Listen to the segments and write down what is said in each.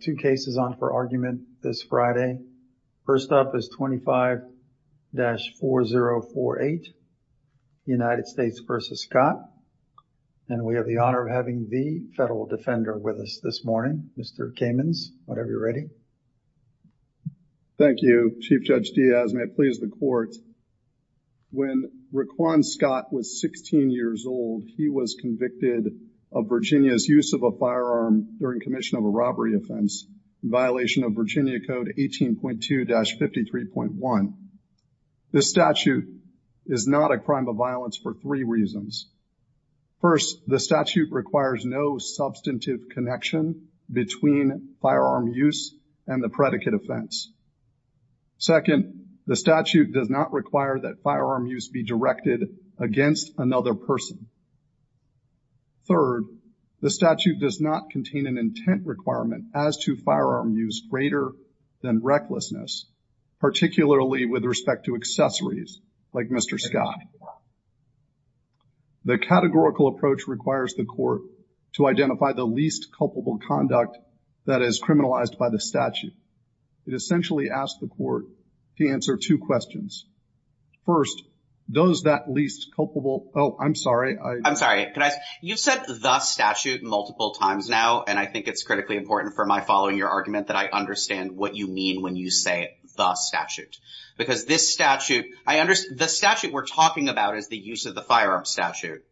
two cases on for argument this Friday. First up is 25-4048 United States v. Scott, and we have the honor of having the federal defender with us this morning, Mr. Kamens, whenever you're ready. Thank you, Chief Judge Diaz. May it please the court, when Raquan Scott was 16 years old, he was convicted of Virginia's use of a firearm during commission of a robbery offense in violation of Virginia Code 18.2-53.1. This statute is not a crime of violence for three reasons. First, the statute requires no substantive connection between firearm use and the predicate offense. Second, the statute does not require that firearm use be directed against another person. Third, the statute does not contain an intent requirement as to firearm use greater than recklessness, particularly with respect to accessories like Mr. Scott. The categorical approach requires the court to identify the least culpable conduct that is criminalized by the statute. It essentially asks the court to answer two questions. First, does that least culpable, oh, I'm sorry. I'm sorry. You've said the statute multiple times now, and I think it's critically important for my following your argument that I understand what you mean when you say the statute. Because this statute, the statute we're talking about is the use of the firearm statute.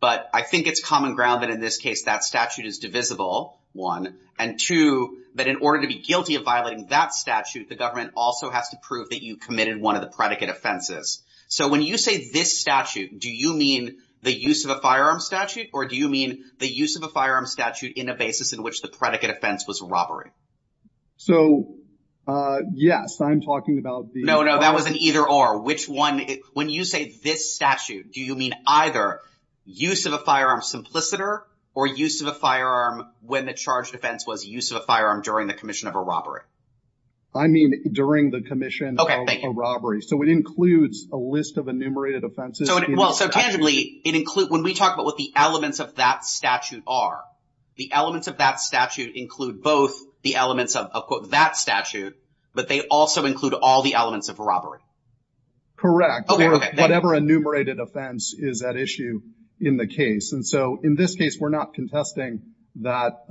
But I think it's common ground that in this case, that statute is divisible, one. And two, that in order to be guilty of violating that statute, the government also has to prove that you committed one of the predicate offenses. So when you say this statute, do you mean the use of a firearm statute? Or do you mean the use of a firearm statute in a basis in which the predicate offense was a robbery? So, yes, I'm talking about the- No, no, that was an either or. When you say this statute, do you mean either use of a firearm simpliciter or use of a firearm when the charged offense was use of a firearm during the commission of a robbery? I mean during the commission of a robbery. So it includes a list of enumerated offenses. Well, so tangibly, it includes, when we talk about what the elements of that statute are, the elements of that statute include both the elements of that statute, but they also include all the elements of a robbery. Correct. Whatever enumerated offense is at issue in the case. And in this case, we're not contesting that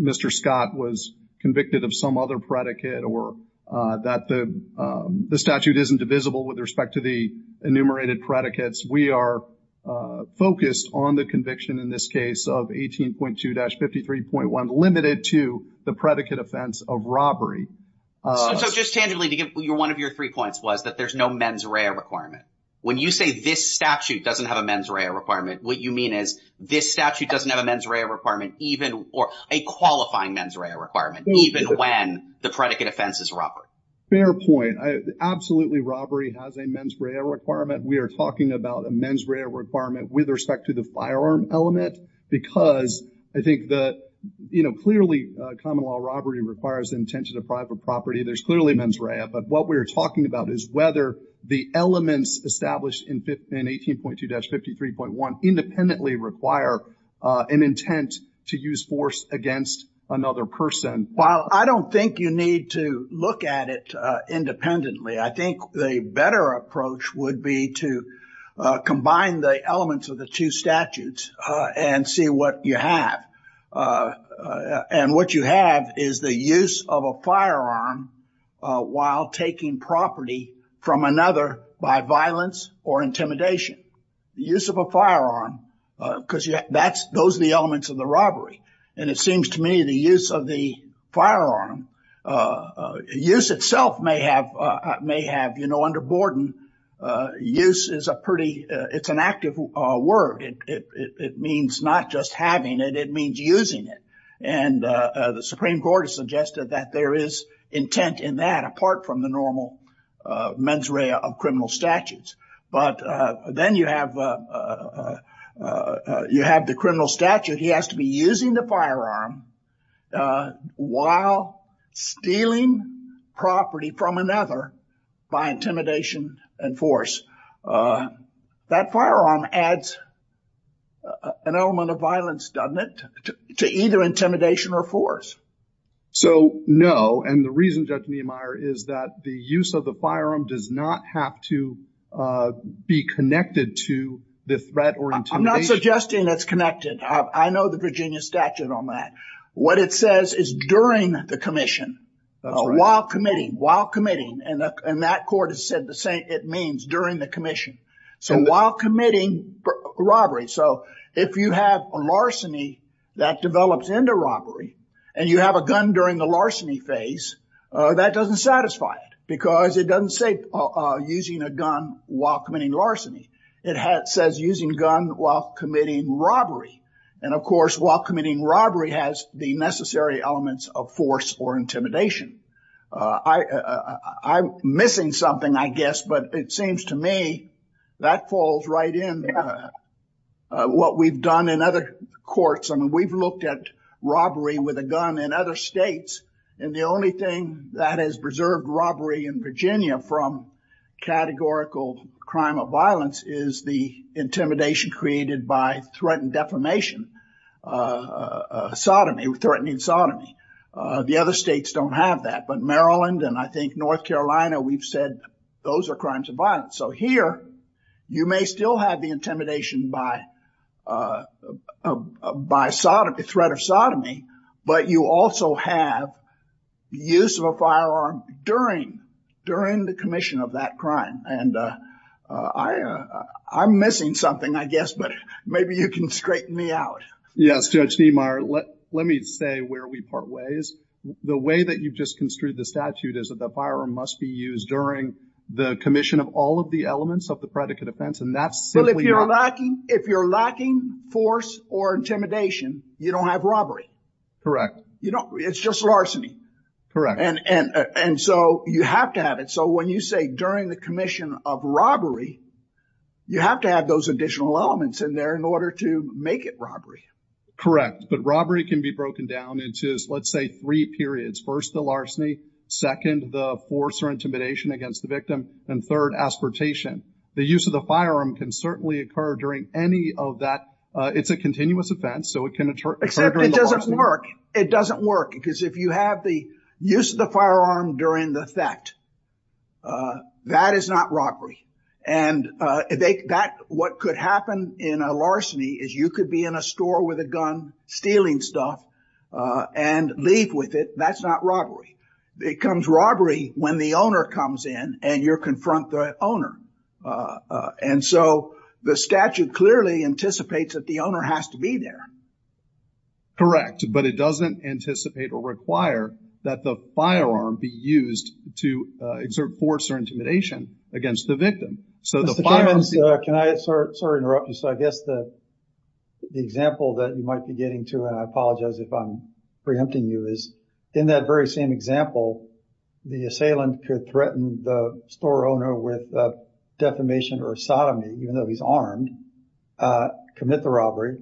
Mr. Scott was convicted of some other predicate or that the statute isn't divisible with respect to the enumerated predicates. We are focused on the conviction in this case of 18.2-53.1, limited to the predicate offense of robbery. So just tangibly, to give one of your three points was that there's no mens rea requirement. When you say this statute doesn't have a mens rea requirement, what you mean is this statute doesn't have a mens rea requirement even or a qualifying mens rea requirement, even when the predicate offense is robbery. Fair point. Absolutely, robbery has a mens rea requirement. We are talking about a mens rea requirement with respect to the firearm element because I think that, you know, clearly common law robbery requires the intention of private property. There's clearly mens rea, but what we're talking about is whether the elements established in 18.2-53.1 independently require an intent to use force against another person. While I don't think you need to look at it independently, I think the better approach would be to combine the elements of the two statutes and see what you have. And what you have is the use of a firearm while taking property from another by violence or intimidation. Use of a firearm, because those are the elements of the robbery, and it seems to me the use of the firearm, use itself may have, you know, under Gordon, use is a pretty, it's an active word. It means not just having it, it means using it. And the Supreme Court has suggested that there is intent in that apart from the normal mens rea of criminal statutes. But then you have the criminal statute, he has to be using the firearm while stealing property from another by intimidation and force. That firearm adds an element of violence, doesn't it, to either intimidation or force. So no, and the reason, Judge Niemeyer, is that the use of the firearm does not have to be connected to the threat or intimidation. I'm not suggesting it's connected. I know the statute on that. What it says is during the commission, while committing, and that court has said the same, it means during the commission. So while committing robbery. So if you have a larceny that develops into robbery, and you have a gun during the larceny phase, that doesn't satisfy it, because it doesn't say using a gun while committing larceny. It says using gun while committing robbery. And, of course, while committing robbery has the necessary elements of force or intimidation. I'm missing something, I guess, but it seems to me that falls right in what we've done in other courts. I mean, we've looked at robbery with a gun in other states, and the only thing that has preserved robbery in Virginia from categorical crime of violence is the intimidation created by threatened defamation, sodomy, threatening sodomy. The other states don't have that, but Maryland and I think North Carolina, we've said those are crimes of violence. So here, you may still have the intimidation by threat of sodomy, but you also have use of a firearm during the commission of that crime. And I'm missing something, I guess, but maybe you can straighten me out. Yes, Judge Niemeyer, let me say where we part ways. The way that you've just construed the statute is that the firearm must be used during the commission of all of the elements of the predicate offense, and that's simply not... Well, if you're lacking force or intimidation, you don't have robbery. Correct. It's just larceny. Correct. And so you have to have it. So when you say during the commission of robbery, you have to have those additional elements in there in order to make it robbery. Correct. But robbery can be broken down into, let's say, three periods. First, the larceny. Second, the force or intimidation against the and third, aspiratation. The use of the firearm can certainly occur during any of that. It's a continuous offense, so it can occur during the larceny. Except it doesn't work. It doesn't work because if you have the use of the firearm during the theft, that is not robbery. And what could happen in a larceny is you could be in a store with a gun, stealing stuff, and leave with it. That's not robbery. It becomes robbery when the owner comes in and you confront the owner. And so the statute clearly anticipates that the owner has to be there. Correct. But it doesn't anticipate or require that the firearm be used to exert force or intimidation against the victim. So the firearm... Mr. Clemens, can I... Sorry to interrupt you. So I guess the example that you might be getting to, and I apologize if I'm preempting you, is that very same example, the assailant could threaten the store owner with defamation or sodomy, even though he's armed, commit the robbery,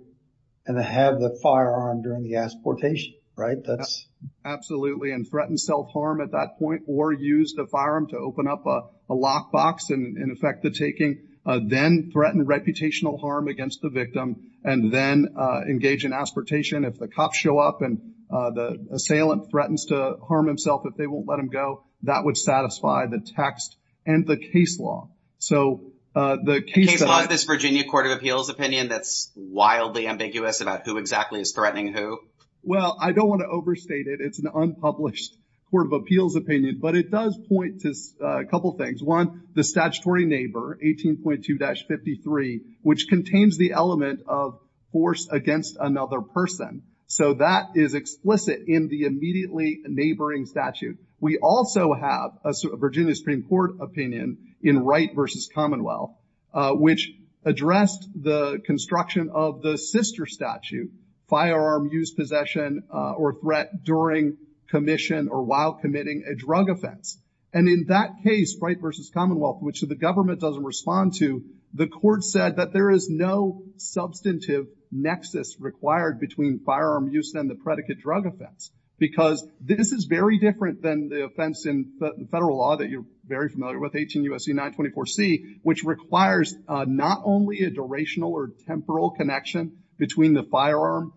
and have the firearm during the aspiratation, right? That's... Absolutely, and threaten self-harm at that point or use the firearm to open up a lockbox and in effect the taking, then threaten reputational harm against the victim, and then engage in aspiratation. If the cops show up and the assailant threatens to harm himself, if they won't let him go, that would satisfy the text and the case law. So the case law... Is this Virginia Court of Appeals opinion that's wildly ambiguous about who exactly is threatening who? Well, I don't want to overstate it. It's an unpublished Court of Appeals opinion, but it does point to a couple of things. One, the statutory neighbor, 18.2-53, which contains the element of force against another person. So that is explicit in the immediately neighboring statute. We also have a Virginia Supreme Court opinion in Wright versus Commonwealth, which addressed the construction of the sister statute, firearm use, possession, or threat during commission or while committing a drug offense. And in that case, Wright versus Commonwealth, which the government doesn't respond to, the court said that there is no substantive nexus required between firearm use and the predicate drug offense, because this is very different than the offense in the federal law that you're very familiar with, 18 U.S.C. 924c, which requires not only a durational or temporal connection between the firearm,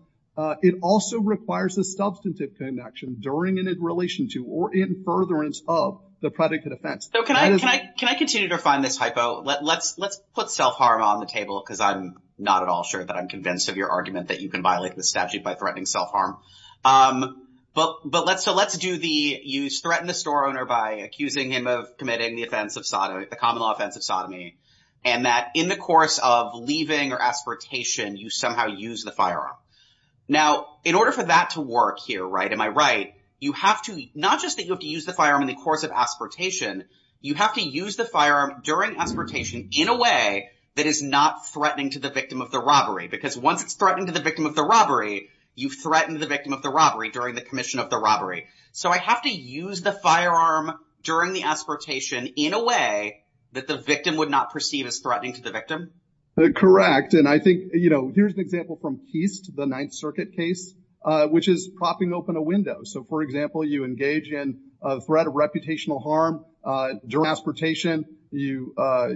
it also requires a substantive connection during and in relation to or in furtherance of the predicate offense. Can I continue to refine this hypo? Let's put self-harm on the table, because I'm not at all sure that I'm convinced of your argument that you can violate the statute by threatening self-harm. But let's do the use, threaten the store owner by accusing him of committing the offense of sodomy, the common law offense of sodomy, and that in the course of leaving or aspiratation, you somehow use the firearm. Now, in order for that to work here, right, am I right, you have to, not just that you have to use the firearm in the course of aspiratation, you have to use the firearm during aspiratation in a way that is not threatening to the victim of the robbery, because once it's threatening to the victim of the robbery, you've threatened the victim of the robbery during the commission of the robbery. So I have to use the firearm during the aspiratation in a way that the victim would not perceive as threatening to the victim? Correct. And I think, you know, here's an example from Keist, the Ninth Circuit case, which is propping open a window. So for example, you engage in a threat of reputational harm during aspiratation, you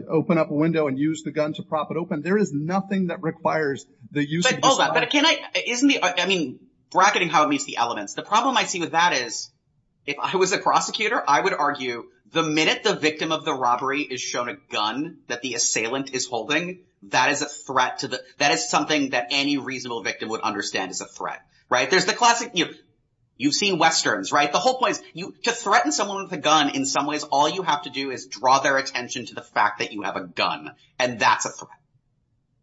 open up a window and use the gun to prop it open. There is nothing that requires the use of this firearm. But can I, isn't the, I mean, bracketing how it meets the elements, the problem I see with that is, if I was a prosecutor, I would argue the minute the victim of the robbery is shown a gun that the assailant is holding, that is a threat to the, that is something that any reasonable victim would understand as a threat, right? There's the classic, you know, you've seen Westerns, right? The whole point is to threaten someone with a gun, in some ways, all you have to do is draw their attention to the fact that you have a gun and that's a threat.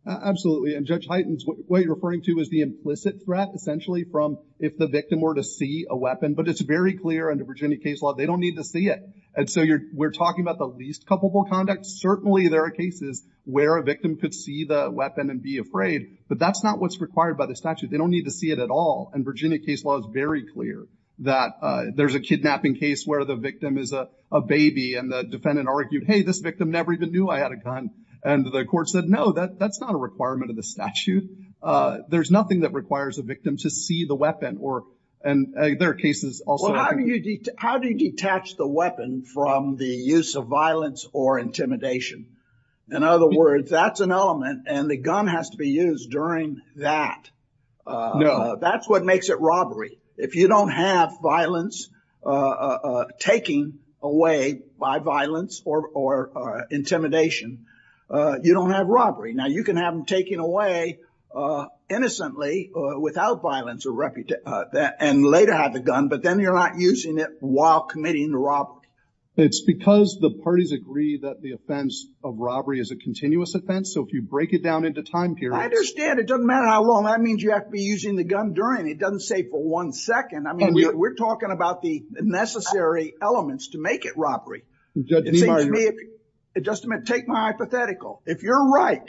Absolutely. And Judge Heitens, what you're referring to is the implicit threat essentially from if the victim were to see a weapon, but it's very clear under Virginia case law, they don't need to see it. And so you're, we're talking about the least culpable conduct. Certainly there are cases where a victim could see the weapon and be afraid, but that's not what's required by the statute. They don't need to see it at all. And Virginia case law is very clear that there's a kidnapping case where the victim is a baby and the defendant argued, hey, this victim never even knew I had a gun. And the court said, no, that's not a requirement of the statute. There's nothing that requires a victim to see the weapon or, and there are cases also. How do you detach the weapon from the use of violence or intimidation? In other words, that's an element and the gun has to be used during that. That's what makes it robbery. If you don't have violence, taking away by violence or, or intimidation, you don't have robbery. Now you can have them taking away innocently or without violence and later have the gun, but then you're not using it while committing the robbery. It's because the parties agree that the offense of robbery is a continuous offense. So if you break it down into time periods, I understand it doesn't matter how long that means you have to be using the gun during, it doesn't say for one second. I mean, we're talking about the necessary elements to make it robbery. It just meant take my hypothetical. If you're right,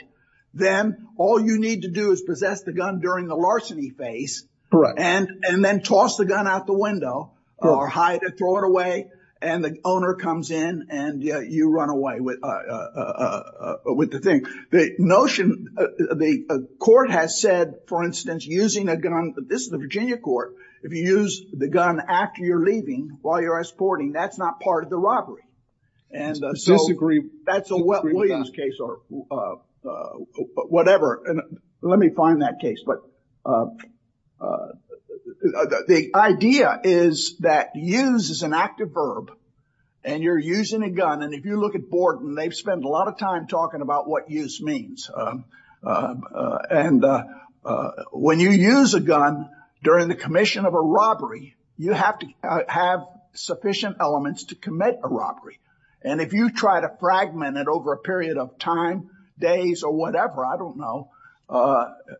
then all you need to do is the gun during the larceny phase and then toss the gun out the window or hide it, throw it away, and the owner comes in and you run away with the thing. The notion, the court has said, for instance, using a gun, this is the Virginia court. If you use the gun after you're leaving, while you're exporting, that's not part of the robbery. And so that's a Williams case or whatever. And let me find that case. But the idea is that use is an active verb and you're using a gun. And if you look at Borden, they've spent a lot of time talking about what use means. And when you use a gun during the commission of a robbery, you have to have sufficient elements to commit a robbery. And if you try to fragment it over a period of time, days or whatever, I don't know.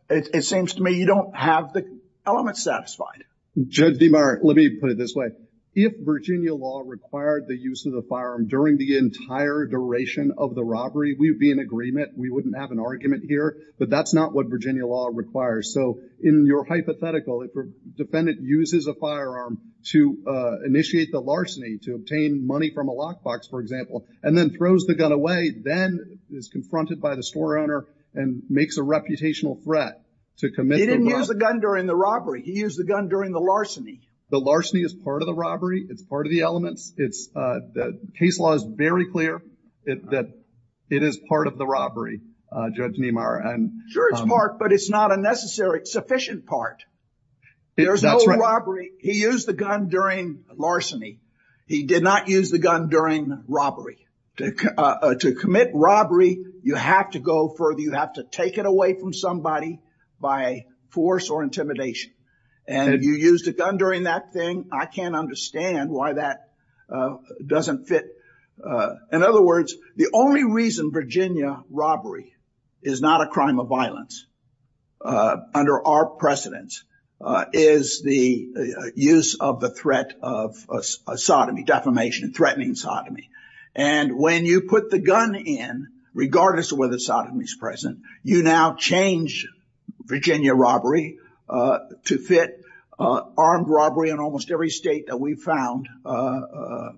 It seems to me you don't have the elements satisfied. Judge DeMeyer, let me put it this way. If Virginia law required the use of the firearm during the entire duration of the robbery, we'd be in agreement. We wouldn't have an argument here, but that's not what Virginia law requires. So in your hypothetical, if a defendant uses a firearm to initiate the larceny, to obtain money from a lockbox, for example, and then throws the gun away, then is confronted by the store owner and makes a reputational threat to commit. He didn't use the gun during the robbery. He used the gun during the larceny. The larceny is part of the robbery. It's part of the elements. Case law is very clear that it is part of the robbery, Judge DeMeyer. Sure, it's part, but it's not a necessary, sufficient part. There's no robbery. He used the gun during larceny. He did not use the gun during robbery. To commit robbery, you have to go further. You have to take it away from somebody by force or intimidation. And if you used a gun during that thing, I can't understand why that doesn't fit. In other words, the only reason Virginia robbery is not a crime of violence under our precedence is the use of the threat of sodomy, defamation, threatening sodomy. And when you put the gun in, regardless of whether sodomy is present, you now change Virginia robbery to fit armed robbery in almost every state that we've found the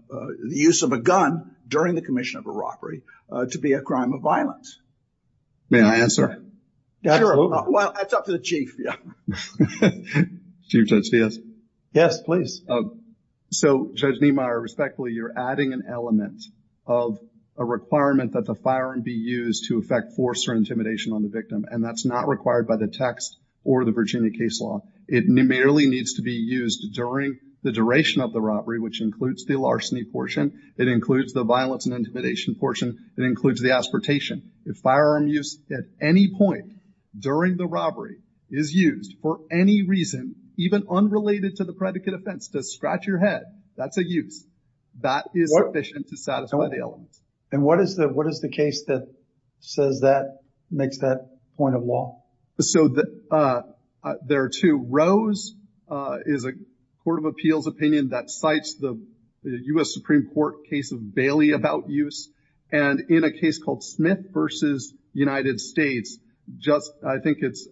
use of a gun during the commission of a robbery to be a crime of violence. May I answer? Sure. Well, I'll talk to the Chief. Chief Judge Diaz. Yes, please. So, Judge DeMeyer, respectfully, you're adding an element of a requirement that the firearm be used to affect force or intimidation on the victim. And that's not required by the text or the Virginia case law. It merely needs to be used during the duration of the robbery, which includes the larceny portion. It includes the violence and intimidation portion. It includes the aspartation. If firearm use at any point during the robbery is used for any reason, even unrelated to the predicate offense, to scratch your head, that's a use. That is sufficient to satisfy the elements. And what is the case that says that, makes that point of law? So, there are two. Rose is a court of appeals opinion that cites the U.S. Supreme Court case Bailey about use. And in a case called Smith versus United States, I think it's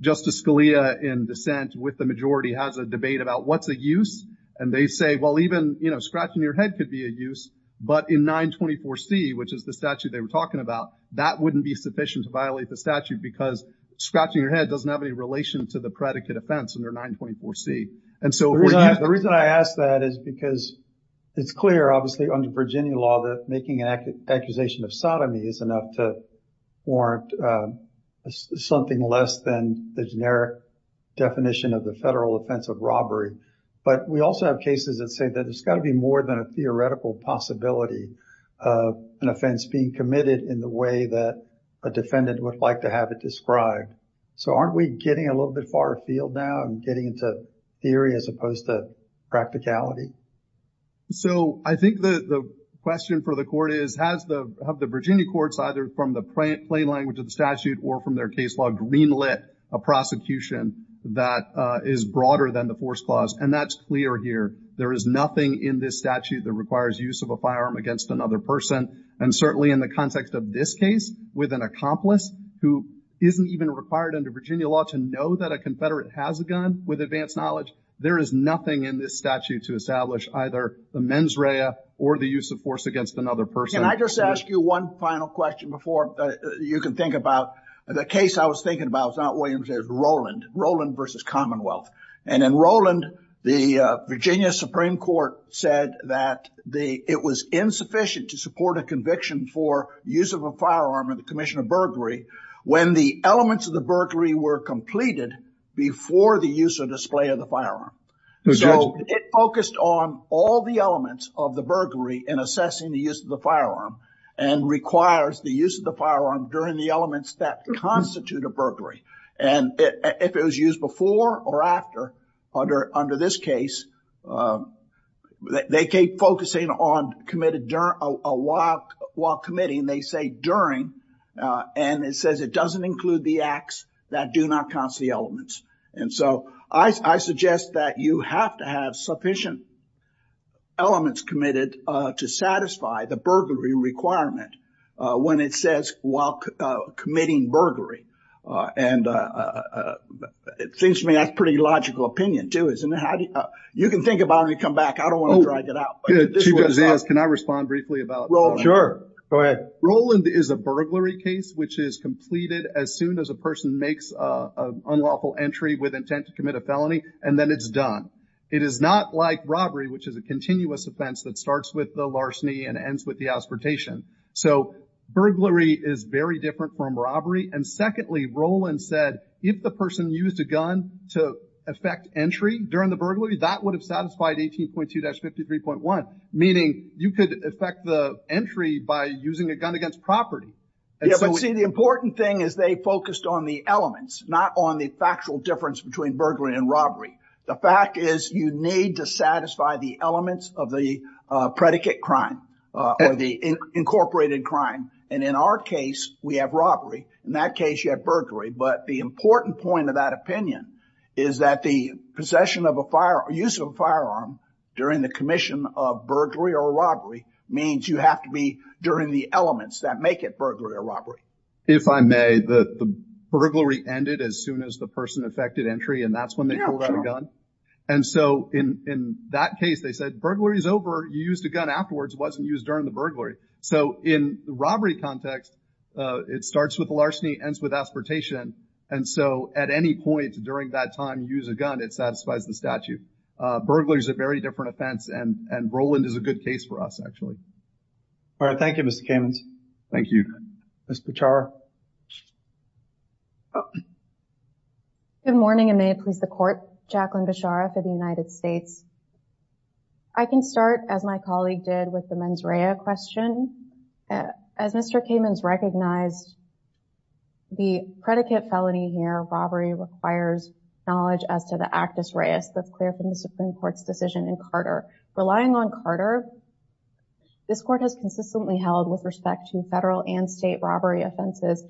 Justice Scalia in dissent with the majority has a debate about what's a use. And they say, well, even scratching your head could be a use. But in 924 C, which is the statute they were talking about, that wouldn't be sufficient to violate the statute because scratching your head doesn't have any relation to the predicate offense under 924 C. The reason I ask that is because it's clear, obviously, under Virginia law that making an accusation of sodomy is enough to warrant something less than the generic definition of the federal offense of robbery. But we also have cases that say that it's got to be more than a theoretical possibility of an offense being committed in the way that a defendant would like to have it described. So, aren't we getting a little bit far afield now and getting into theory as opposed to practicality? So, I think the question for the court is, have the Virginia courts either from the plain language of the statute or from their case law greenlit a prosecution that is broader than the force clause? And that's clear here. There is nothing in this statute that requires use of a firearm against another person. And certainly in the context of this case with an accomplice who isn't even required under Virginia law to know that a confederate has a gun with advanced knowledge, there is nothing in this statute to establish either the mens rea or the use of force against another person. Can I just ask you one final question before you can think about the case I was thinking about? It's not Williams, it's Rowland. Rowland versus Commonwealth. And in Rowland, the Virginia Supreme Court said that it was insufficient to support a conviction for use of a firearm in the commission of burglary when the elements of the burglary were completed before the use or display of the firearm. So, it focused on all the elements of the burglary in assessing the use of the firearm and requires the use of the firearm during the elements that constitute a burglary. And if it was used before or after, under this case, they keep focusing on while committing, they say during, and it says it doesn't include the acts that do not constitute elements. And so, I suggest that you have to have sufficient elements committed to satisfy the burglary requirement when it says while committing burglary. And it seems to me that's a pretty logical opinion too, isn't it? You can think about it when you come back. I don't want to drag it out. Chief, can I respond briefly about... Rowland. Sure, go ahead. Rowland is a burglary case, which is completed as soon as a person makes an unlawful entry with intent to commit a felony, and then it's done. It is not like robbery, which is a continuous offense that starts with the larceny and ends with the aspiration. So, burglary is very different from robbery. And secondly, Rowland said, if the person used a gun to affect entry during the burglary, that would have satisfied 18.2-53.1, meaning you could affect the entry by using a gun against property. Yeah, but see, the important thing is they focused on the elements, not on the factual difference between burglary and robbery. The fact is you need to satisfy the elements of the predicate crime or the incorporated crime. And in our case, we have robbery. In that case, you have burglary. But the important point of that opinion is that the possession of a fire, use of a firearm during the commission of burglary or robbery means you have to be during the elements that make it burglary or robbery. If I may, the burglary ended as soon as the person affected entry, and that's when they pulled out a gun. And so, in that case, they said, burglary's over. You used a gun afterwards. It wasn't used during the burglary. So, in the robbery context, it starts with larceny, ends with aspartation. And so, at any point during that time, use a gun, it satisfies the statute. Burglary's a very different offense, and Roland is a good case for us, actually. All right. Thank you, Mr. Kamens. Thank you. Ms. Bechara. Good morning, and may it please the Court. Jacqueline Bechara for the United States. I can start, as my colleague did, with the mens rea question. As Mr. Kamens recognized, the predicate felony here, robbery, requires knowledge as to the actus reus that's clear from the Supreme Court's decision in Carter. Relying on Carter, this Court has consistently held with respect to federal and state robbery offenses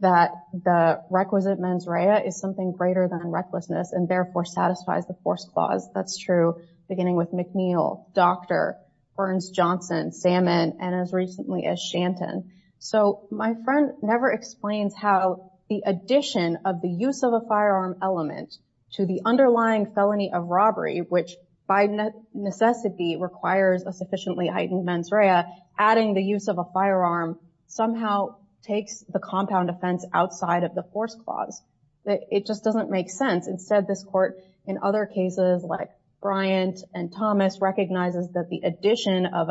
that the requisite mens rea is something than recklessness and therefore satisfies the force clause. That's true, beginning with McNeil, Docter, Burns, Johnson, Salmon, and as recently as Shanton. So, my friend never explains how the addition of the use of a firearm element to the underlying felony of robbery, which by necessity requires a sufficiently heightened mens rea, adding the use of a firearm somehow takes the compound offense outside of the force clause. It just doesn't make sense. Instead, this Court, in other cases, like Bryant and Thomas, recognizes that the addition of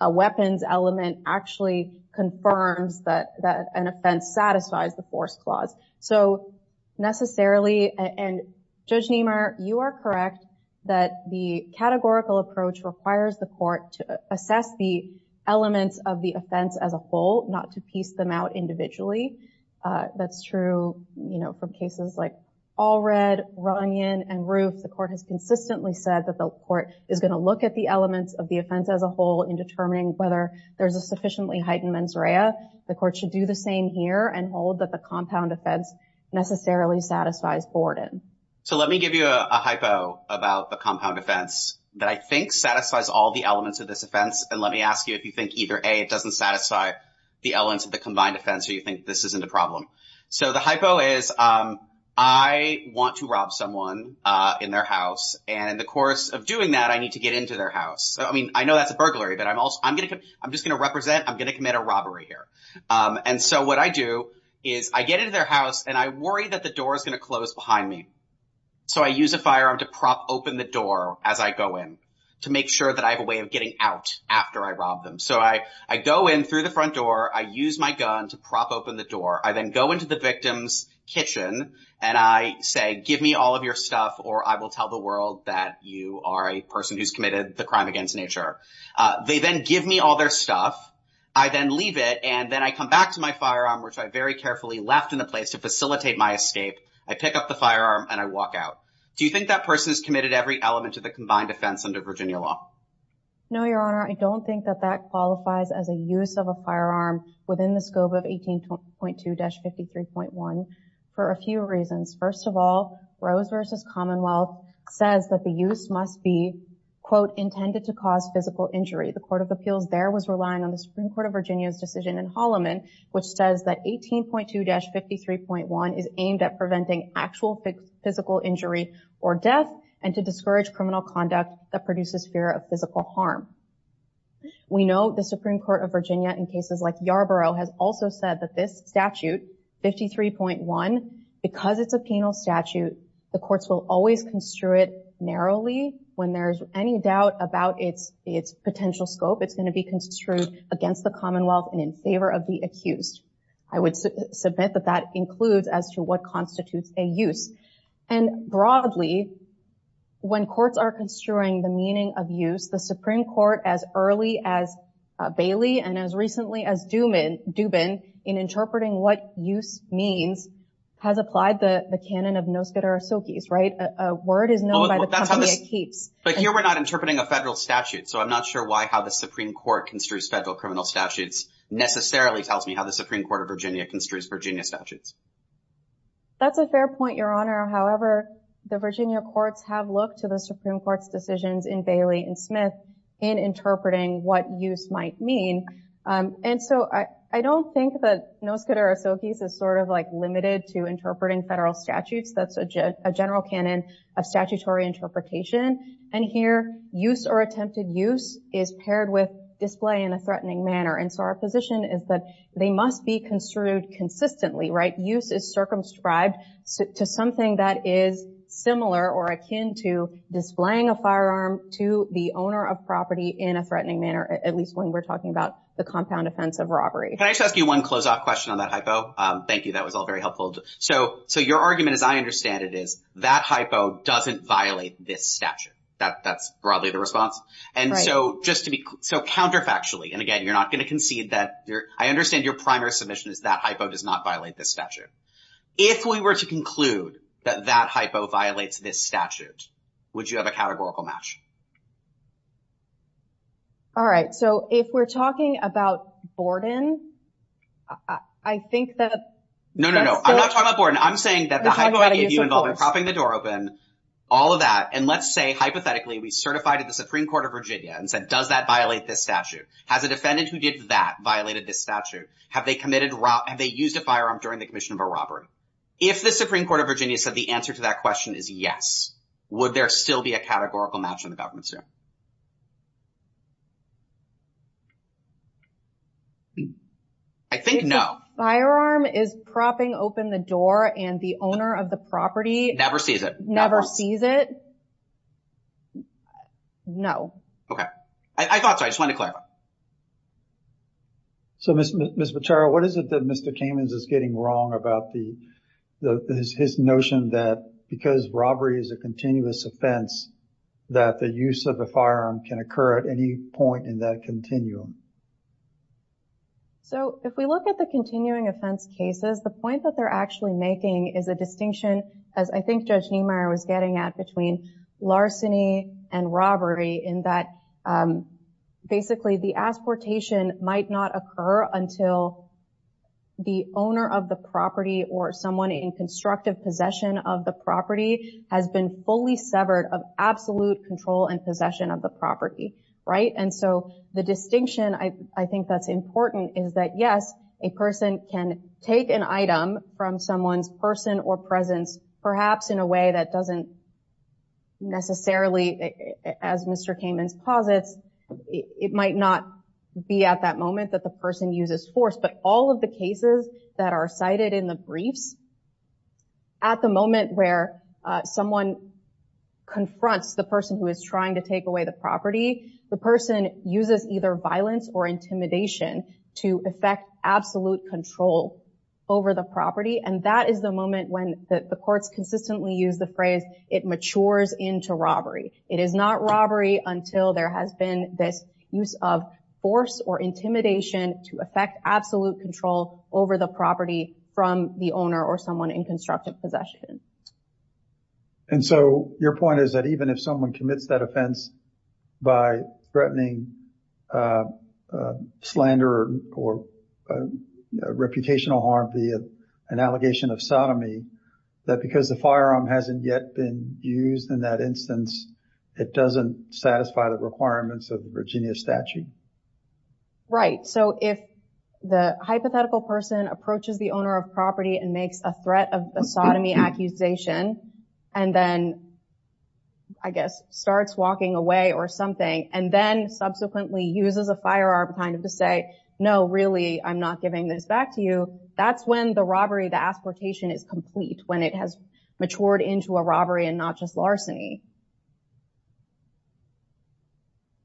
a weapons element actually confirms that an offense satisfies the force clause. So, necessarily, and Judge Niemeyer, you are correct that the categorical approach requires the Court to assess the elements of the offense as a whole, not to piece them out individually. That's true, you know, from cases like Allred, Runyon, and Roof. The Court has consistently said that the Court is going to look at the elements of the offense as a whole in determining whether there's a sufficiently heightened mens rea. The Court should do the same here and hold that the compound offense necessarily satisfies Borden. So, let me give you a hypo about the compound offense that I think satisfies all the elements of this offense, and let me ask you if you think either, A, it doesn't satisfy the elements of the combined offense, or you think this isn't a problem. So, the hypo is I want to rob someone in their house, and in the course of doing that, I need to get into their house. I mean, I know that's a burglary, but I'm just going to represent, I'm going to commit a robbery here. And so, what I do is I get into their house, and I worry that door is going to close behind me. So, I use a firearm to prop open the door as I go in, to make sure that I have a way of getting out after I rob them. So, I go in through the front door. I use my gun to prop open the door. I then go into the victim's kitchen, and I say, give me all of your stuff, or I will tell the world that you are a person who's committed the crime against nature. They then give me all their stuff. I then leave it, and then I come back to my firearm, which I very carefully left in the place to facilitate my escape. I pick up the firearm, and I walk out. Do you think that person has committed every element of the combined offense under Virginia law? No, Your Honor. I don't think that that qualifies as a use of a firearm within the scope of 18.2-53.1 for a few reasons. First of all, Rose v. Commonwealth says that the use must be, quote, intended to cause physical injury. The Court of Appeals there was relying on the 18.2-53.1 is aimed at preventing actual physical injury or death and to discourage criminal conduct that produces fear of physical harm. We know the Supreme Court of Virginia in cases like Yarborough has also said that this statute, 53.1, because it's a penal statute, the courts will always construe it narrowly. When there's any doubt about its potential scope, it's going to be construed against the Commonwealth and in favor of the accused. I would submit that that includes as to what constitutes a use. And broadly, when courts are construing the meaning of use, the Supreme Court, as early as Bailey and as recently as Dubin, in interpreting what use means, has applied the canon of nos quere socis, right? A word is known by the company it keeps. But here we're not interpreting a federal statute, so I'm not sure why how the Supreme Court construes federal criminal statutes necessarily tells me how the Supreme Court of Virginia construes Virginia statutes. That's a fair point, Your Honor. However, the Virginia courts have looked to the Supreme Court's decisions in Bailey and Smith in interpreting what use might mean. And so, I don't think that nos quere socis is sort of like limited to interpreting federal statutes. That's a general canon of statutory interpretation. And here, use or attempted use is paired with display in a threatening manner. And so, our position is that they must be construed consistently, right? Use is circumscribed to something that is similar or akin to displaying a firearm to the owner of property in a threatening manner, at least when we're talking about the compound offense of robbery. Can I just ask you one close-off question on that hypo? Thank you. That was all very helpful. So, your argument, as I understand it, is that hypo doesn't violate this statute. That's broadly the response. And so, counterfactually, and again, you're not going to concede that. I understand your primary submission is that hypo does not violate this statute. If we were to conclude that that hypo violates this statute, would you have a categorical match? All right. So, if we're talking about Borden, I think that... No, no, no. I'm not talking about Borden. I'm saying that the hypo I gave you involving propping the door open, all of that, and let's say, hypothetically, we certified at the Supreme Court of Virginia and said, does that violate this statute? Has a defendant who did that violated this statute? Have they used a firearm during the commission of a robbery? If the Supreme Court of Virginia said the answer to that question is yes, would there still be a categorical match in the government suit? I think no. If the firearm is propping open the door and the owner of the property... ...never sees it? No. Okay. I thought so. I just wanted to clarify. So, Ms. Becerra, what is it that Mr. Kamens is getting wrong about his notion that because robbery is a continuous offense, that the use of the firearm can occur at any point in that continuum? So, if we look at the continuing offense cases, the point that they're actually making is a distinction, as I think Judge Niemeyer was getting at, between larceny and robbery in that basically the asportation might not occur until the owner of the property or someone in constructive possession of the property has been fully severed of absolute control and possession of the property, right? And so the distinction I think that's important is that, yes, a person can take an item from someone's person or presence, perhaps in a way that doesn't necessarily, as Mr. Kamens posits, it might not be at that moment that the person uses force. But all of the cases that are cited in the briefs, at the moment where someone confronts the person who is trying to take away the property, the person uses either violence or intimidation to affect absolute control over the property. And that is the moment when the courts consistently use the phrase, it matures into robbery. It is not robbery until there has been this use of force or intimidation to affect absolute control over the property from the owner or someone in constructive possession. And so your point is that even if someone commits that offense by threatening slander or reputational harm via an allegation of sodomy, that because the firearm hasn't yet been used in that instance, it doesn't satisfy the requirements of the Virginia statute. Right. So if the hypothetical person approaches the owner of property and makes a threat of a uses a firearm kind of to say, no, really, I'm not giving this back to you. That's when the robbery, the asportation is complete when it has matured into a robbery and not just larceny.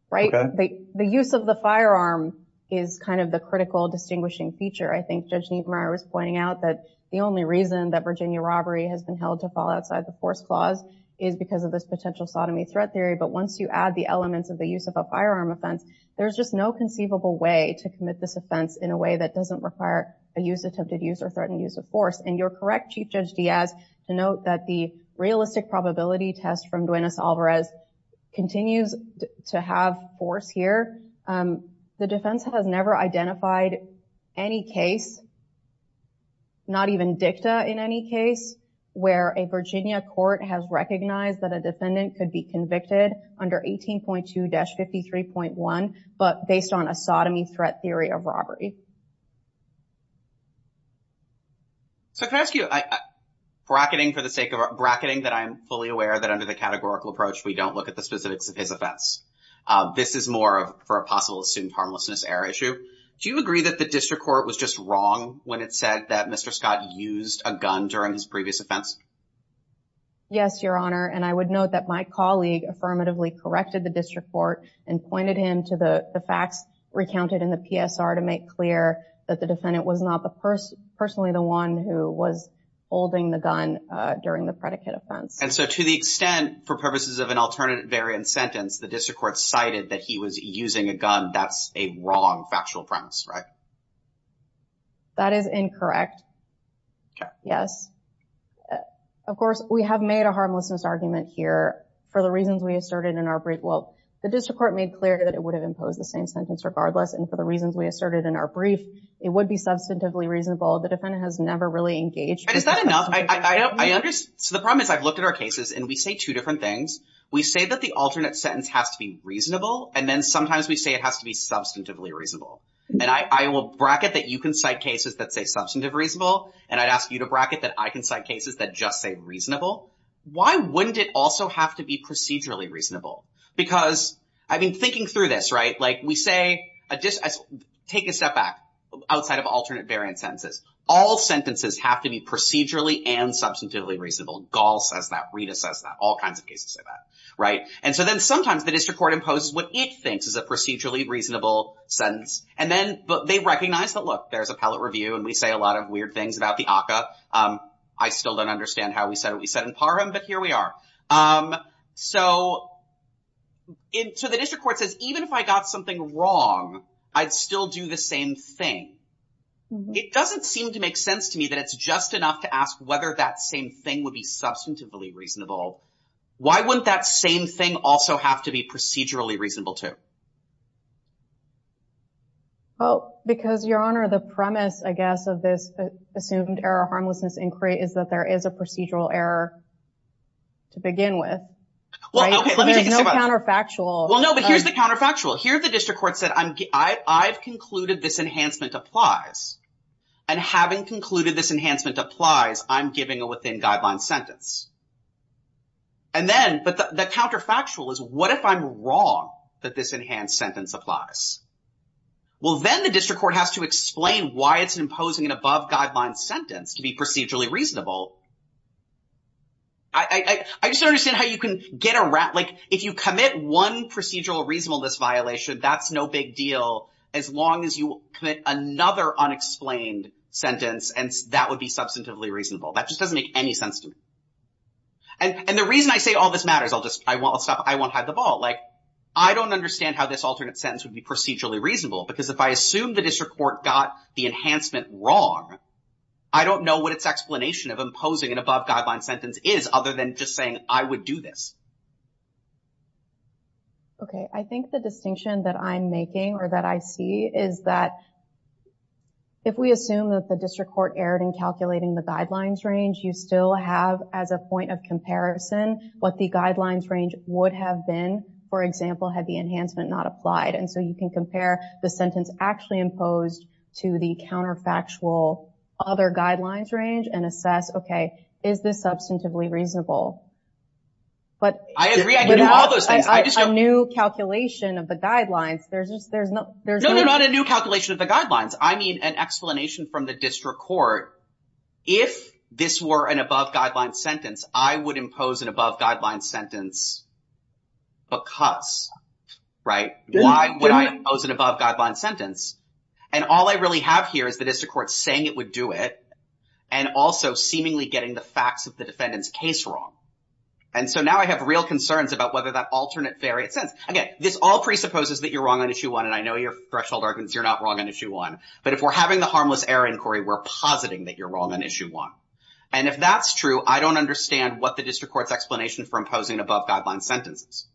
Right. The use of the firearm is kind of the critical distinguishing feature. I think Judge Niemeyer was pointing out that the only reason that Virginia robbery has been held to fall outside the force clause is because of this potential sodomy threat theory. But once you add the there's just no conceivable way to commit this offense in a way that doesn't require a use attempted use or threatened use of force. And you're correct, Chief Judge Diaz, to note that the realistic probability test from Duenas-Alvarez continues to have force here. The defense has never identified any case, not even dicta in any case, where a Virginia court has recognized that a defendant could be convicted under 18.2-53.1, but based on a sodomy threat theory of robbery. So can I ask you, bracketing for the sake of bracketing that I'm fully aware that under the categorical approach, we don't look at the specifics of his offense. This is more of for a possible assumed harmlessness error issue. Do you agree that the district court was just wrong when it said that Mr. Scott used a gun during his previous offense? Yes, Your Honor. And I would note that my colleague affirmatively corrected the district court and pointed him to the facts recounted in the PSR to make clear that the defendant was not the person personally the one who was holding the gun during the predicate offense. And so to the extent for purposes of an alternative variant sentence, the district court cited that he was using a gun. That's a wrong factual premise, right? That is incorrect. Yes. Of course, we have made a harmlessness argument here for the reasons we asserted in our brief. Well, the district court made clear that it would have imposed the same sentence regardless. And for the reasons we asserted in our brief, it would be substantively reasonable. The defendant has never really engaged. Is that enough? I understand. So the problem is I've looked at our cases and we say two different things. We say that the alternate sentence has to be reasonable. And then sometimes we say it has to be substantively reasonable. And I will bracket that you can cite cases that say substantive reasonable. And I'd ask you to bracket that I can cite cases that just say reasonable. Why wouldn't it also have to be procedurally reasonable? Because I've been thinking through this, right? Like we say just take a step back outside of alternate variant sentences. All sentences have to be procedurally and substantively reasonable. Gall says that. Rita says that. All kinds of cases say that, right? And so then sometimes the district court imposes what it thinks is a procedurally reasonable sentence. And then they recognize that, look, there's appellate review and we say a lot of weird things about the ACCA. I still don't understand how we said what we said in PARM, but here we are. So the district court says even if I got something wrong, I'd still do the same thing. It doesn't seem to make sense to me that it's just enough to ask whether that same thing would be substantively reasonable. Why wouldn't that same thing also have to be procedurally reasonable too? Well, because, Your Honor, the premise, I guess, of this assumed error harmlessness inquiry is that there is a procedural error to begin with. There's no counterfactual. Well, no, but here's the counterfactual. Here the district court said I've concluded this enhancement applies. And having concluded this enhancement applies, I'm giving a within guideline sentence. And then, but the counterfactual is what if I'm wrong that this enhanced sentence applies? Well, then the district court has to explain why it's imposing an above guideline sentence to be procedurally reasonable. I just don't understand how you can get around, like, if you commit one procedural reasonableness violation, that's no big deal as long as you commit another unexplained sentence and that would be substantively reasonable. That just doesn't make any sense to me. And the reason I say all this matters, I'll just, I won't stop, I won't hide the ball. Like, I don't understand how this alternate sentence would be procedurally reasonable because if I assume the district court got the enhancement wrong, I don't know what its explanation of imposing an above guideline sentence is other than just saying I would do this. Okay, I think the distinction that I'm making or that I see is that if we assume that the district court erred in calculating the guidelines range, you still have as a point of comparison what the guidelines range would have been, for example, had the enhancement not applied. And so you can compare the sentence actually imposed to the counterfactual other guidelines range and assess, okay, is this substantively reasonable? But without a new calculation of the guidelines, there's just, there's no, there's no, not a new calculation of the guidelines. I need an explanation from the district court. If this were an above guideline sentence, I would impose an above guideline sentence because, right? Why would I impose an above guideline sentence? And all I really have here is the district court saying it would do it and also seemingly getting the facts of the defendant's case wrong. And so now I have real concerns about whether that alternate variant sentence, again, this all presupposes that you're wrong on issue one. And I know your threshold you're not wrong on issue one, but if we're having the harmless error inquiry, we're positing that you're wrong on issue one. And if that's true, I don't understand what the district court's explanation for imposing above guideline sentences.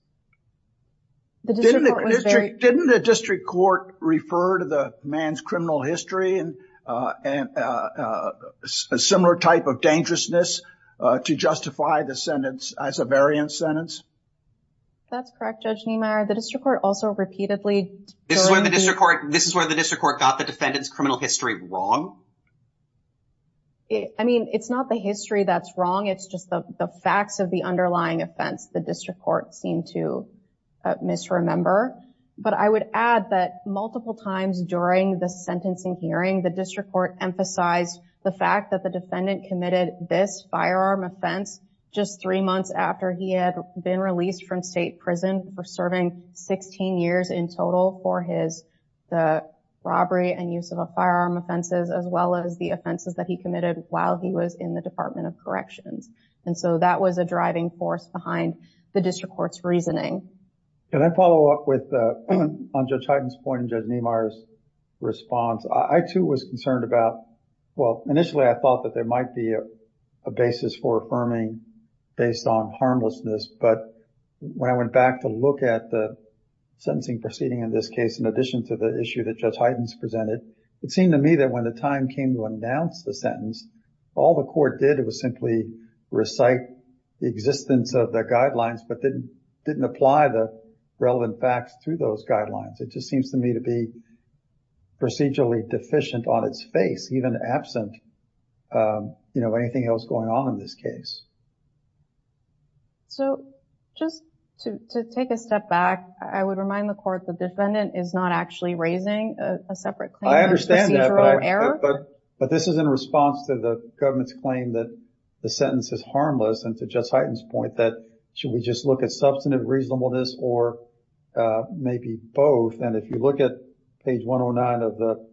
Didn't the district court refer to the man's criminal history and a similar type of dangerousness to justify the sentence as a variant sentence? That's correct, Judge Niemeyer. The district court also repeatedly This is where the district court got the defendant's criminal history wrong? I mean, it's not the history that's wrong. It's just the facts of the underlying offense the district court seemed to misremember. But I would add that multiple times during the sentencing hearing, the district court emphasized the fact that the defendant committed this firearm offense just three months after he had been released from state prison for serving 16 years in total for the robbery and use of a firearm offenses, as well as the offenses that he committed while he was in the Department of Corrections. And so that was a driving force behind the district court's reasoning. Can I follow up on Judge Hyten's point and Judge Niemeyer's response? I too was concerned about, well, initially I thought that there might be a basis for affirming based on harmlessness. But when I went back to look at the sentencing proceeding in this case, in addition to the issue that Judge Hyten's presented, it seemed to me that when the time came to announce the sentence, all the court did was simply recite the existence of the guidelines, but didn't apply the relevant facts to those guidelines. It just seems to me to be procedurally deficient on its face, even absent, you know, anything else going on in this case. So just to take a step back, I would remind the court the defendant is not actually raising a separate claim. I understand that, but this is in response to the government's claim that the sentence is harmless and to Judge maybe both. And if you look at page 109 of the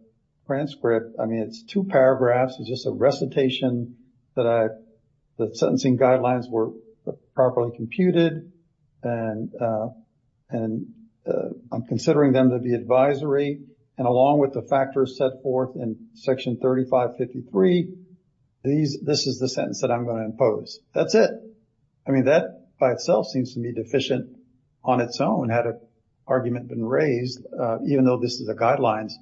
transcript, I mean, it's two paragraphs, it's just a recitation that the sentencing guidelines were properly computed and I'm considering them to be advisory. And along with the factors set forth in section 3553, this is the sentence that I'm going to impose. That's it. I mean, that by itself seems to be on its own, had an argument been raised, even though this is a guidelines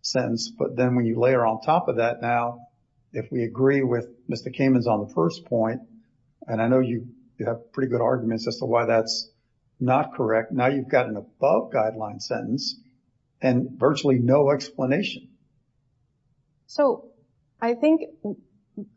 sentence. But then when you layer on top of that, now, if we agree with Mr. Kamen's on the first point, and I know you have pretty good arguments as to why that's not correct. Now you've got an above guideline sentence and virtually no explanation. So I think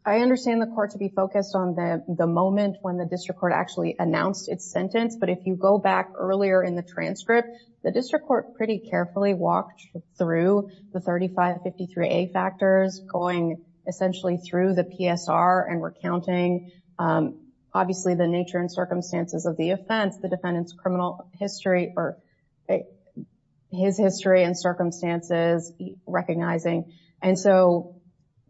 I understand the court to be focused on the moment when the district court actually announced its sentence. But if you go back earlier in the transcript, the district court pretty carefully walked through the 3553A factors going essentially through the PSR and recounting obviously the nature and circumstances of the offense, the defendant's criminal history or his history and circumstances recognizing. And so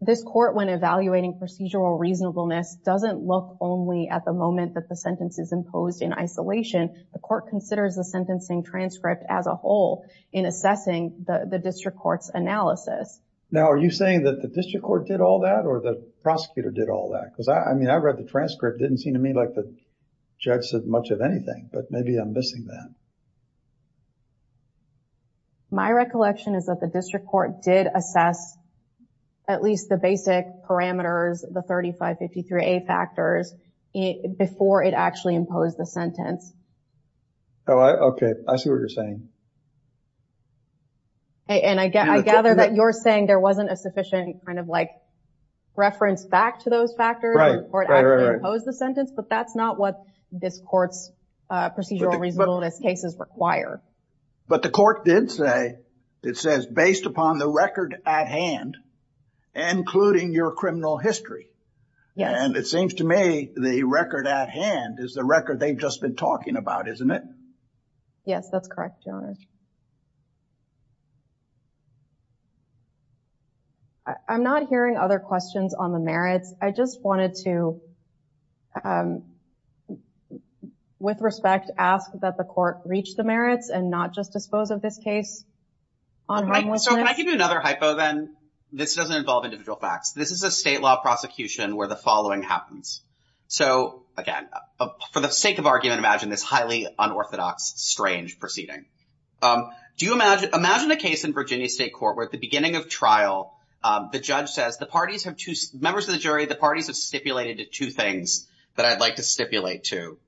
this court when evaluating procedural reasonableness doesn't look only at the moment that the sentence is imposed in isolation. The court considers the sentencing transcript as a whole in assessing the district court's analysis. Now, are you saying that the district court did all that or the prosecutor did all that? Because I mean, I read the transcript, didn't seem to me like the judge said much of anything, but maybe I'm missing that. My recollection is that the district court did assess at least the basic parameters, the 3553A factors before it actually imposed the sentence. Oh, okay. I see what you're saying. And I gather that you're saying there wasn't a sufficient kind of like reference back to those factors before it actually imposed the sentence, but that's not what this court's procedural reasonableness cases require. But the court did say, it says based upon the record at hand, including your criminal history. And it seems to me the record at hand is the record they've just been talking about, isn't it? Yes, that's correct, Your Honor. I'm not hearing other questions on the merits. I just wanted to with respect ask that the court reach the merits and not just dispose of this case on homelessness. So can I give you another hypo then? This doesn't involve individual facts. This is a state law prosecution where the following happens. So again, for the sake of argument, imagine this highly unorthodox, strange proceeding. Imagine a case in Virginia State Court where at the beginning of the trial, the judge says, members of the jury, the parties have stipulated two things that I'd like to stipulate to.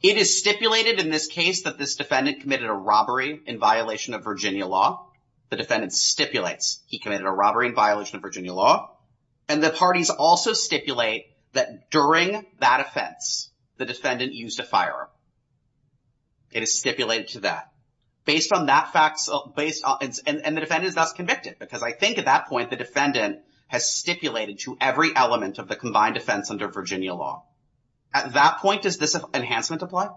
It is stipulated in this case that this defendant committed a robbery in violation of Virginia law. The defendant stipulates he committed a robbery in violation of Virginia law. And the parties also stipulate that during that offense, the defendant used a firearm. It is stipulated to that. And the defendant is thus convicted because I think at that point, the defendant has stipulated to every element of the combined offense under Virginia law. At that point, does this enhancement apply?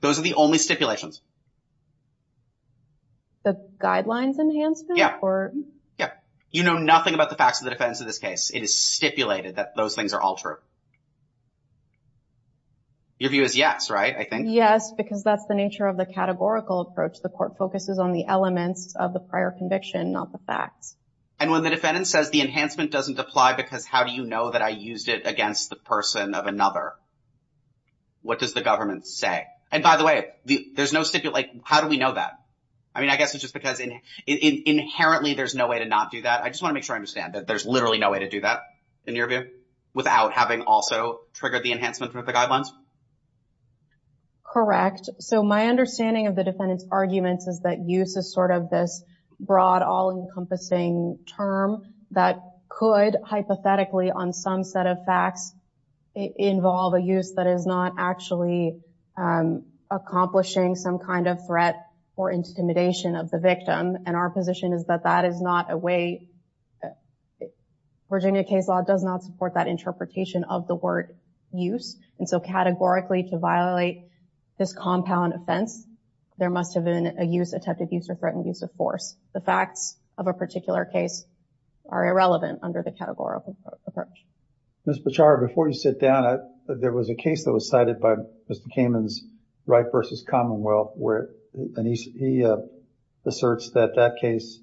Those are the only stipulations. The guidelines enhancement? Yeah. You know nothing about the facts of the defense in this case. It is stipulated that those things are all true. Your view is yes, right? I think. Yes, because that's the nature of the categorical approach. The court focuses on the elements of the prior conviction, not the facts. And when the defendant says the enhancement doesn't apply because how do you know that I used it against the person of another? What does the government say? And by the way, there's no stipulation. How do we know that? I mean, I guess it's just because inherently there's no way to not do that. I just want to understand that there's literally no way to do that in your view without having also triggered the enhancement with the guidelines. Correct. So my understanding of the defendant's arguments is that use is sort of this broad, all-encompassing term that could hypothetically on some set of facts involve a use that is not actually accomplishing some kind of threat or intimidation of the victim. And our position is that that is not a way, Virginia case law does not support that interpretation of the word use. And so categorically to violate this compound offense, there must have been a use, attempted use, or threatened use of force. The facts of a particular case are irrelevant under the categorical approach. Ms. Bechara, before you sit down, there was a case that was cited by Mr. Kamen's Wright v. Commonwealth where he asserts that that case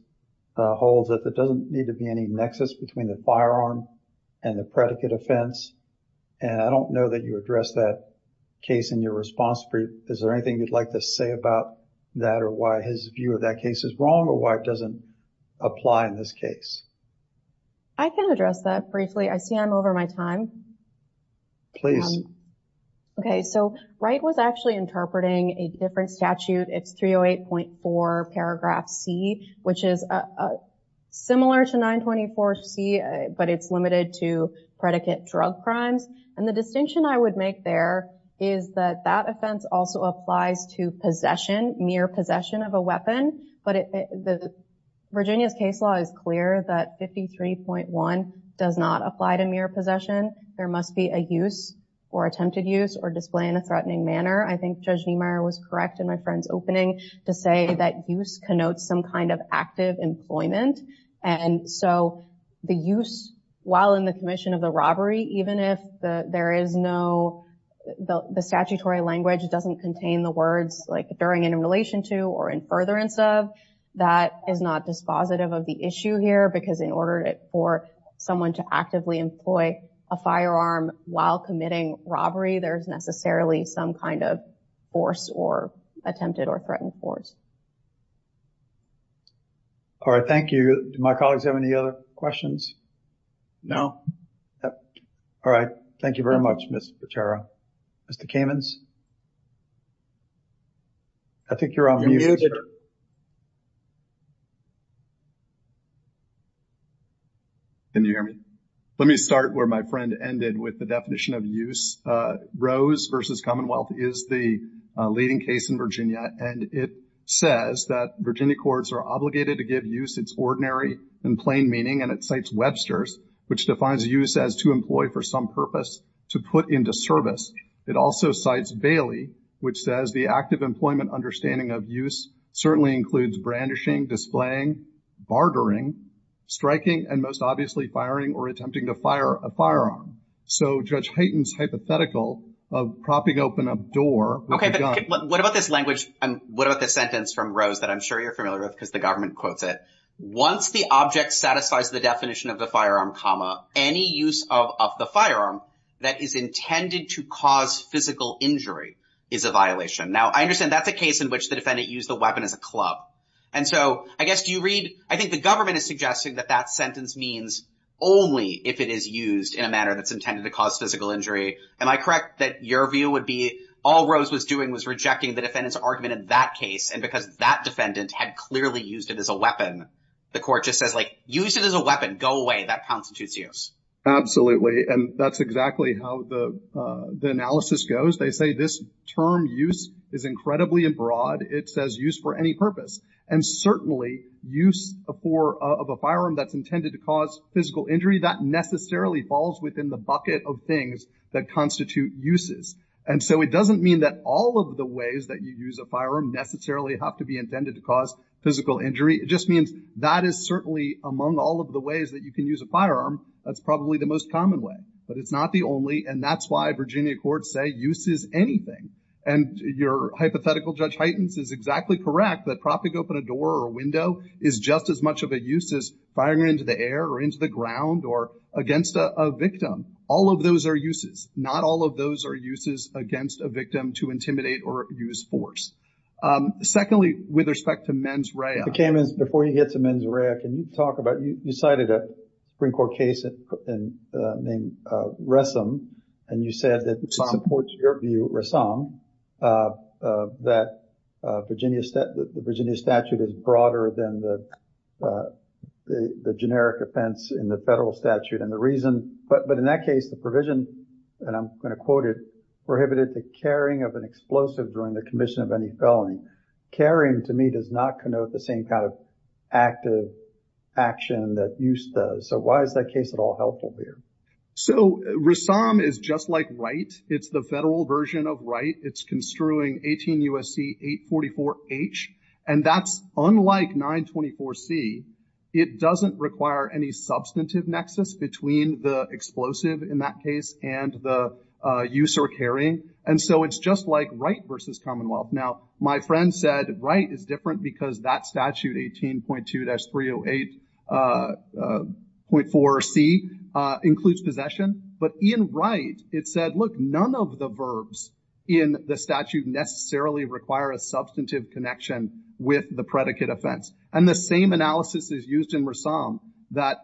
holds that there doesn't need to be any nexus between the firearm and the predicate offense. And I don't know that you addressed that case in your response. Is there anything you'd like to say about that or why his view of that case is wrong or why it doesn't apply in this case? I can address that briefly. I see I'm over my time. Please. Okay. So Wright was actually interpreting a different statute. It's 308.4 paragraph C, which is similar to 924 C, but it's limited to predicate drug crimes. And the distinction I would make there is that that offense also applies to possession, mere possession of a weapon. But the Virginia's case law is clear that 53.1 does not apply to mere possession. There must be a use or attempted use or display in a threatening manner. I think Judge Niemeyer was correct in my friend's opening to say that use connotes some kind of active employment. And so the use, while in the commission of the robbery, even if there is no, the statutory language doesn't contain the words like during and in relation to or in furtherance of, that is not dispositive of the issue here because in order for someone to actively employ a firearm while committing robbery, there's necessarily some kind of force or attempted or threatened force. All right. Thank you. Do my colleagues have any other questions? No. All right. Thank you very much, Ms. Potero. Mr. Kamens? I think you're on mute. Can you hear me? Let me start where my friend ended with the definition of use. Rose v. Commonwealth is the leading case in Virginia, and it says that Virginia courts are obligated to give use its ordinary and plain meaning, and it cites Webster's, which defines use as to employ for some purpose to put into service. It also cites Bailey, which says the active employment understanding of use certainly includes brandishing, displaying, bartering, striking, and most obviously firing or attempting to fire a firearm. So Judge Hayton's hypothetical of propping open a door. Okay, but what about this language and what about the sentence from Rose that I'm sure you're familiar with because the government quotes it. Once the object satisfies the definition of the firearm, any use of the firearm that is intended to cause physical injury is a violation. Now, I understand that's a case in which the defendant used the weapon as a club. And so I guess do you read? I think the government is suggesting that that sentence means only if it is used in a manner that's intended to cause physical injury. Am I correct that your view would be all Rose was doing was rejecting the defendant's argument in that case and because that defendant had clearly used it as a weapon, the court just says, like, use it as a weapon. Go away. That constitutes use. Absolutely. And that's exactly how the analysis goes. They say this term use is incredibly broad. It says use for any purpose and certainly use of a firearm that's intended to cause physical injury that necessarily falls within the bucket of things that constitute uses. And so it doesn't mean that all of the ways that you use a firearm necessarily have to be intended to cause physical injury. It just means that is certainly among all of the ways that you can use a firearm. That's probably the most common way, but it's not the only. And that's why Virginia courts say use is anything. And your hypothetical Judge Heitens is exactly correct that propping open a door or window is just as much of a use as firing into the air or into the ground or against a victim. All of those are uses. Not all of those are uses against a victim to intimidate or use force. Secondly, with respect to mens rea. The case is, before you get to mens rea, can you talk about, you cited a Supreme Court case named Ressam and you said that it supports your view, Ressam, that the Virginia statute is broader than the generic offense in the federal statute. And the reason, but in that case, the provision, and I'm going to quote it, prohibited the carrying of an explosive during the commission of any felony. Carrying, to me, does not connote the same kind of active action that use does. So, why is that case at all helpful here? So, Ressam is just like Wright. It's the federal version of Wright. It's construing 18 U.S.C. 844H. And that's unlike 924C. It doesn't require any substantive nexus between the explosive in that case and the use or carrying. And so, it's just like Wright versus Commonwealth. Now, my friend said Wright is different because that statute, 18.2-308.4C, includes possession. But in Wright, it said, look, none of the verbs in the statute necessarily require a substantive connection with the predicate offense. And the same analysis is used in Ressam that,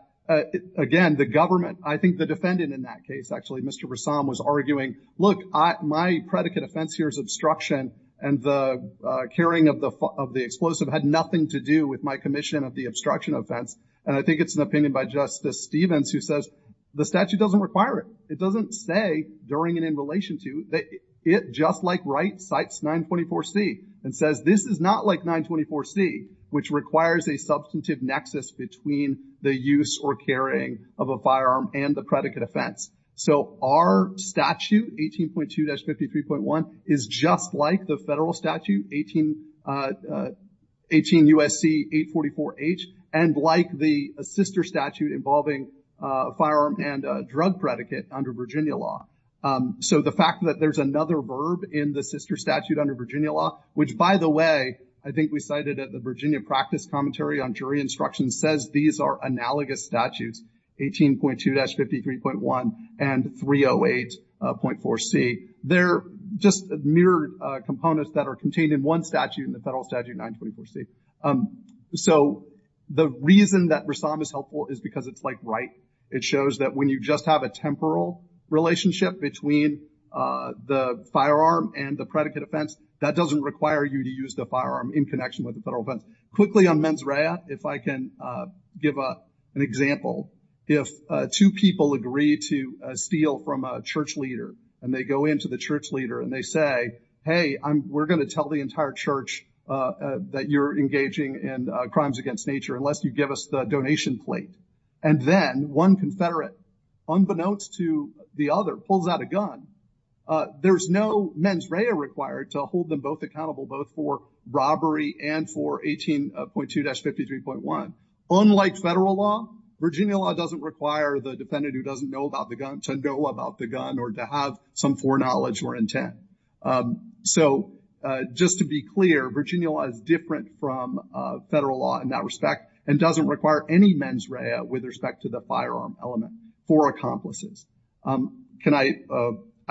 again, the government, I think the defendant in that case, actually, Mr. Ressam, was arguing, look, my predicate offense here is obstruction and the carrying of the explosive had nothing to do with my commission of the obstruction offense. And I think it's an opinion by Justice Stevens who says the statute doesn't require it. It doesn't say during and in relation to that it, just like Wright, cites 924C and says this is not like 924C, which requires a substantive nexus between the use or carrying of a firearm and the predicate offense. So our statute, 18.2-53.1, is just like the federal statute, 18 U.S.C. 844H, and like the sister statute involving a firearm and a drug predicate under Virginia law. So the fact that there's another verb in the sister statute under Virginia law, which, by the way, I think we cited at the Virginia practice commentary on jury instruction, says these are analogous statutes, 18.2-53.1 and 308.4C. They're just mirrored components that are contained in one statute in the federal statute, 924C. So the reason that Ressam is helpful is because it's like Wright. It shows that when you just have a temporal relationship between the firearm and the predicate offense, that doesn't require you to use the firearm in connection with the federal offense. Quickly on mens rea, if I can give an example. If two people agree to steal from a church leader and they go in to the church leader and they say, hey, we're going to tell the entire church that you're engaging in crimes against nature unless you the donation plate. And then one confederate, unbeknownst to the other, pulls out a gun. There's no mens rea required to hold them both accountable, both for robbery and for 18.2-53.1. Unlike federal law, Virginia law doesn't require the defendant who doesn't know about the gun to know about the gun or to have some foreknowledge or intent. So just to be clear, Virginia law is from federal law in that respect and doesn't require any mens rea with respect to the firearm element for accomplices. Can I,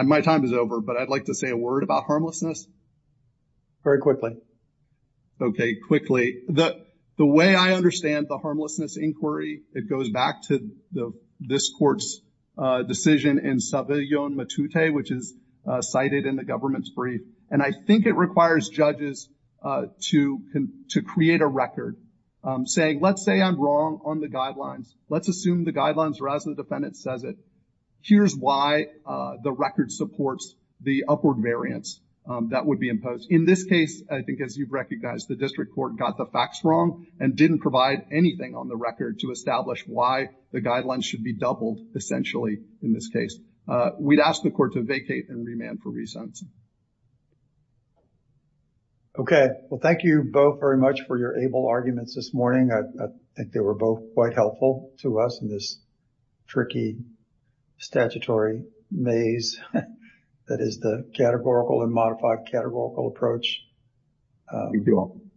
my time is over, but I'd like to say a word about harmlessness. Very quickly. Okay, quickly. The way I understand the harmlessness inquiry, it goes back to this court's decision in Saviglione Matute, which is cited in the government's brief. And I think it requires judges to create a record saying, let's say I'm wrong on the guidelines. Let's assume the guidelines are as the defendant says it. Here's why the record supports the upward variance that would be imposed. In this case, I think as you've recognized, the district court got the facts wrong and didn't provide anything on the record to establish why the guidelines should be doubled essentially in this case. We'd ask the court to vacate and remand for reasons. Okay. Well, thank you both very much for your able arguments this morning. I think they were both quite helpful to us in this tricky statutory maze that is the categorical and modified categorical approach. You're welcome.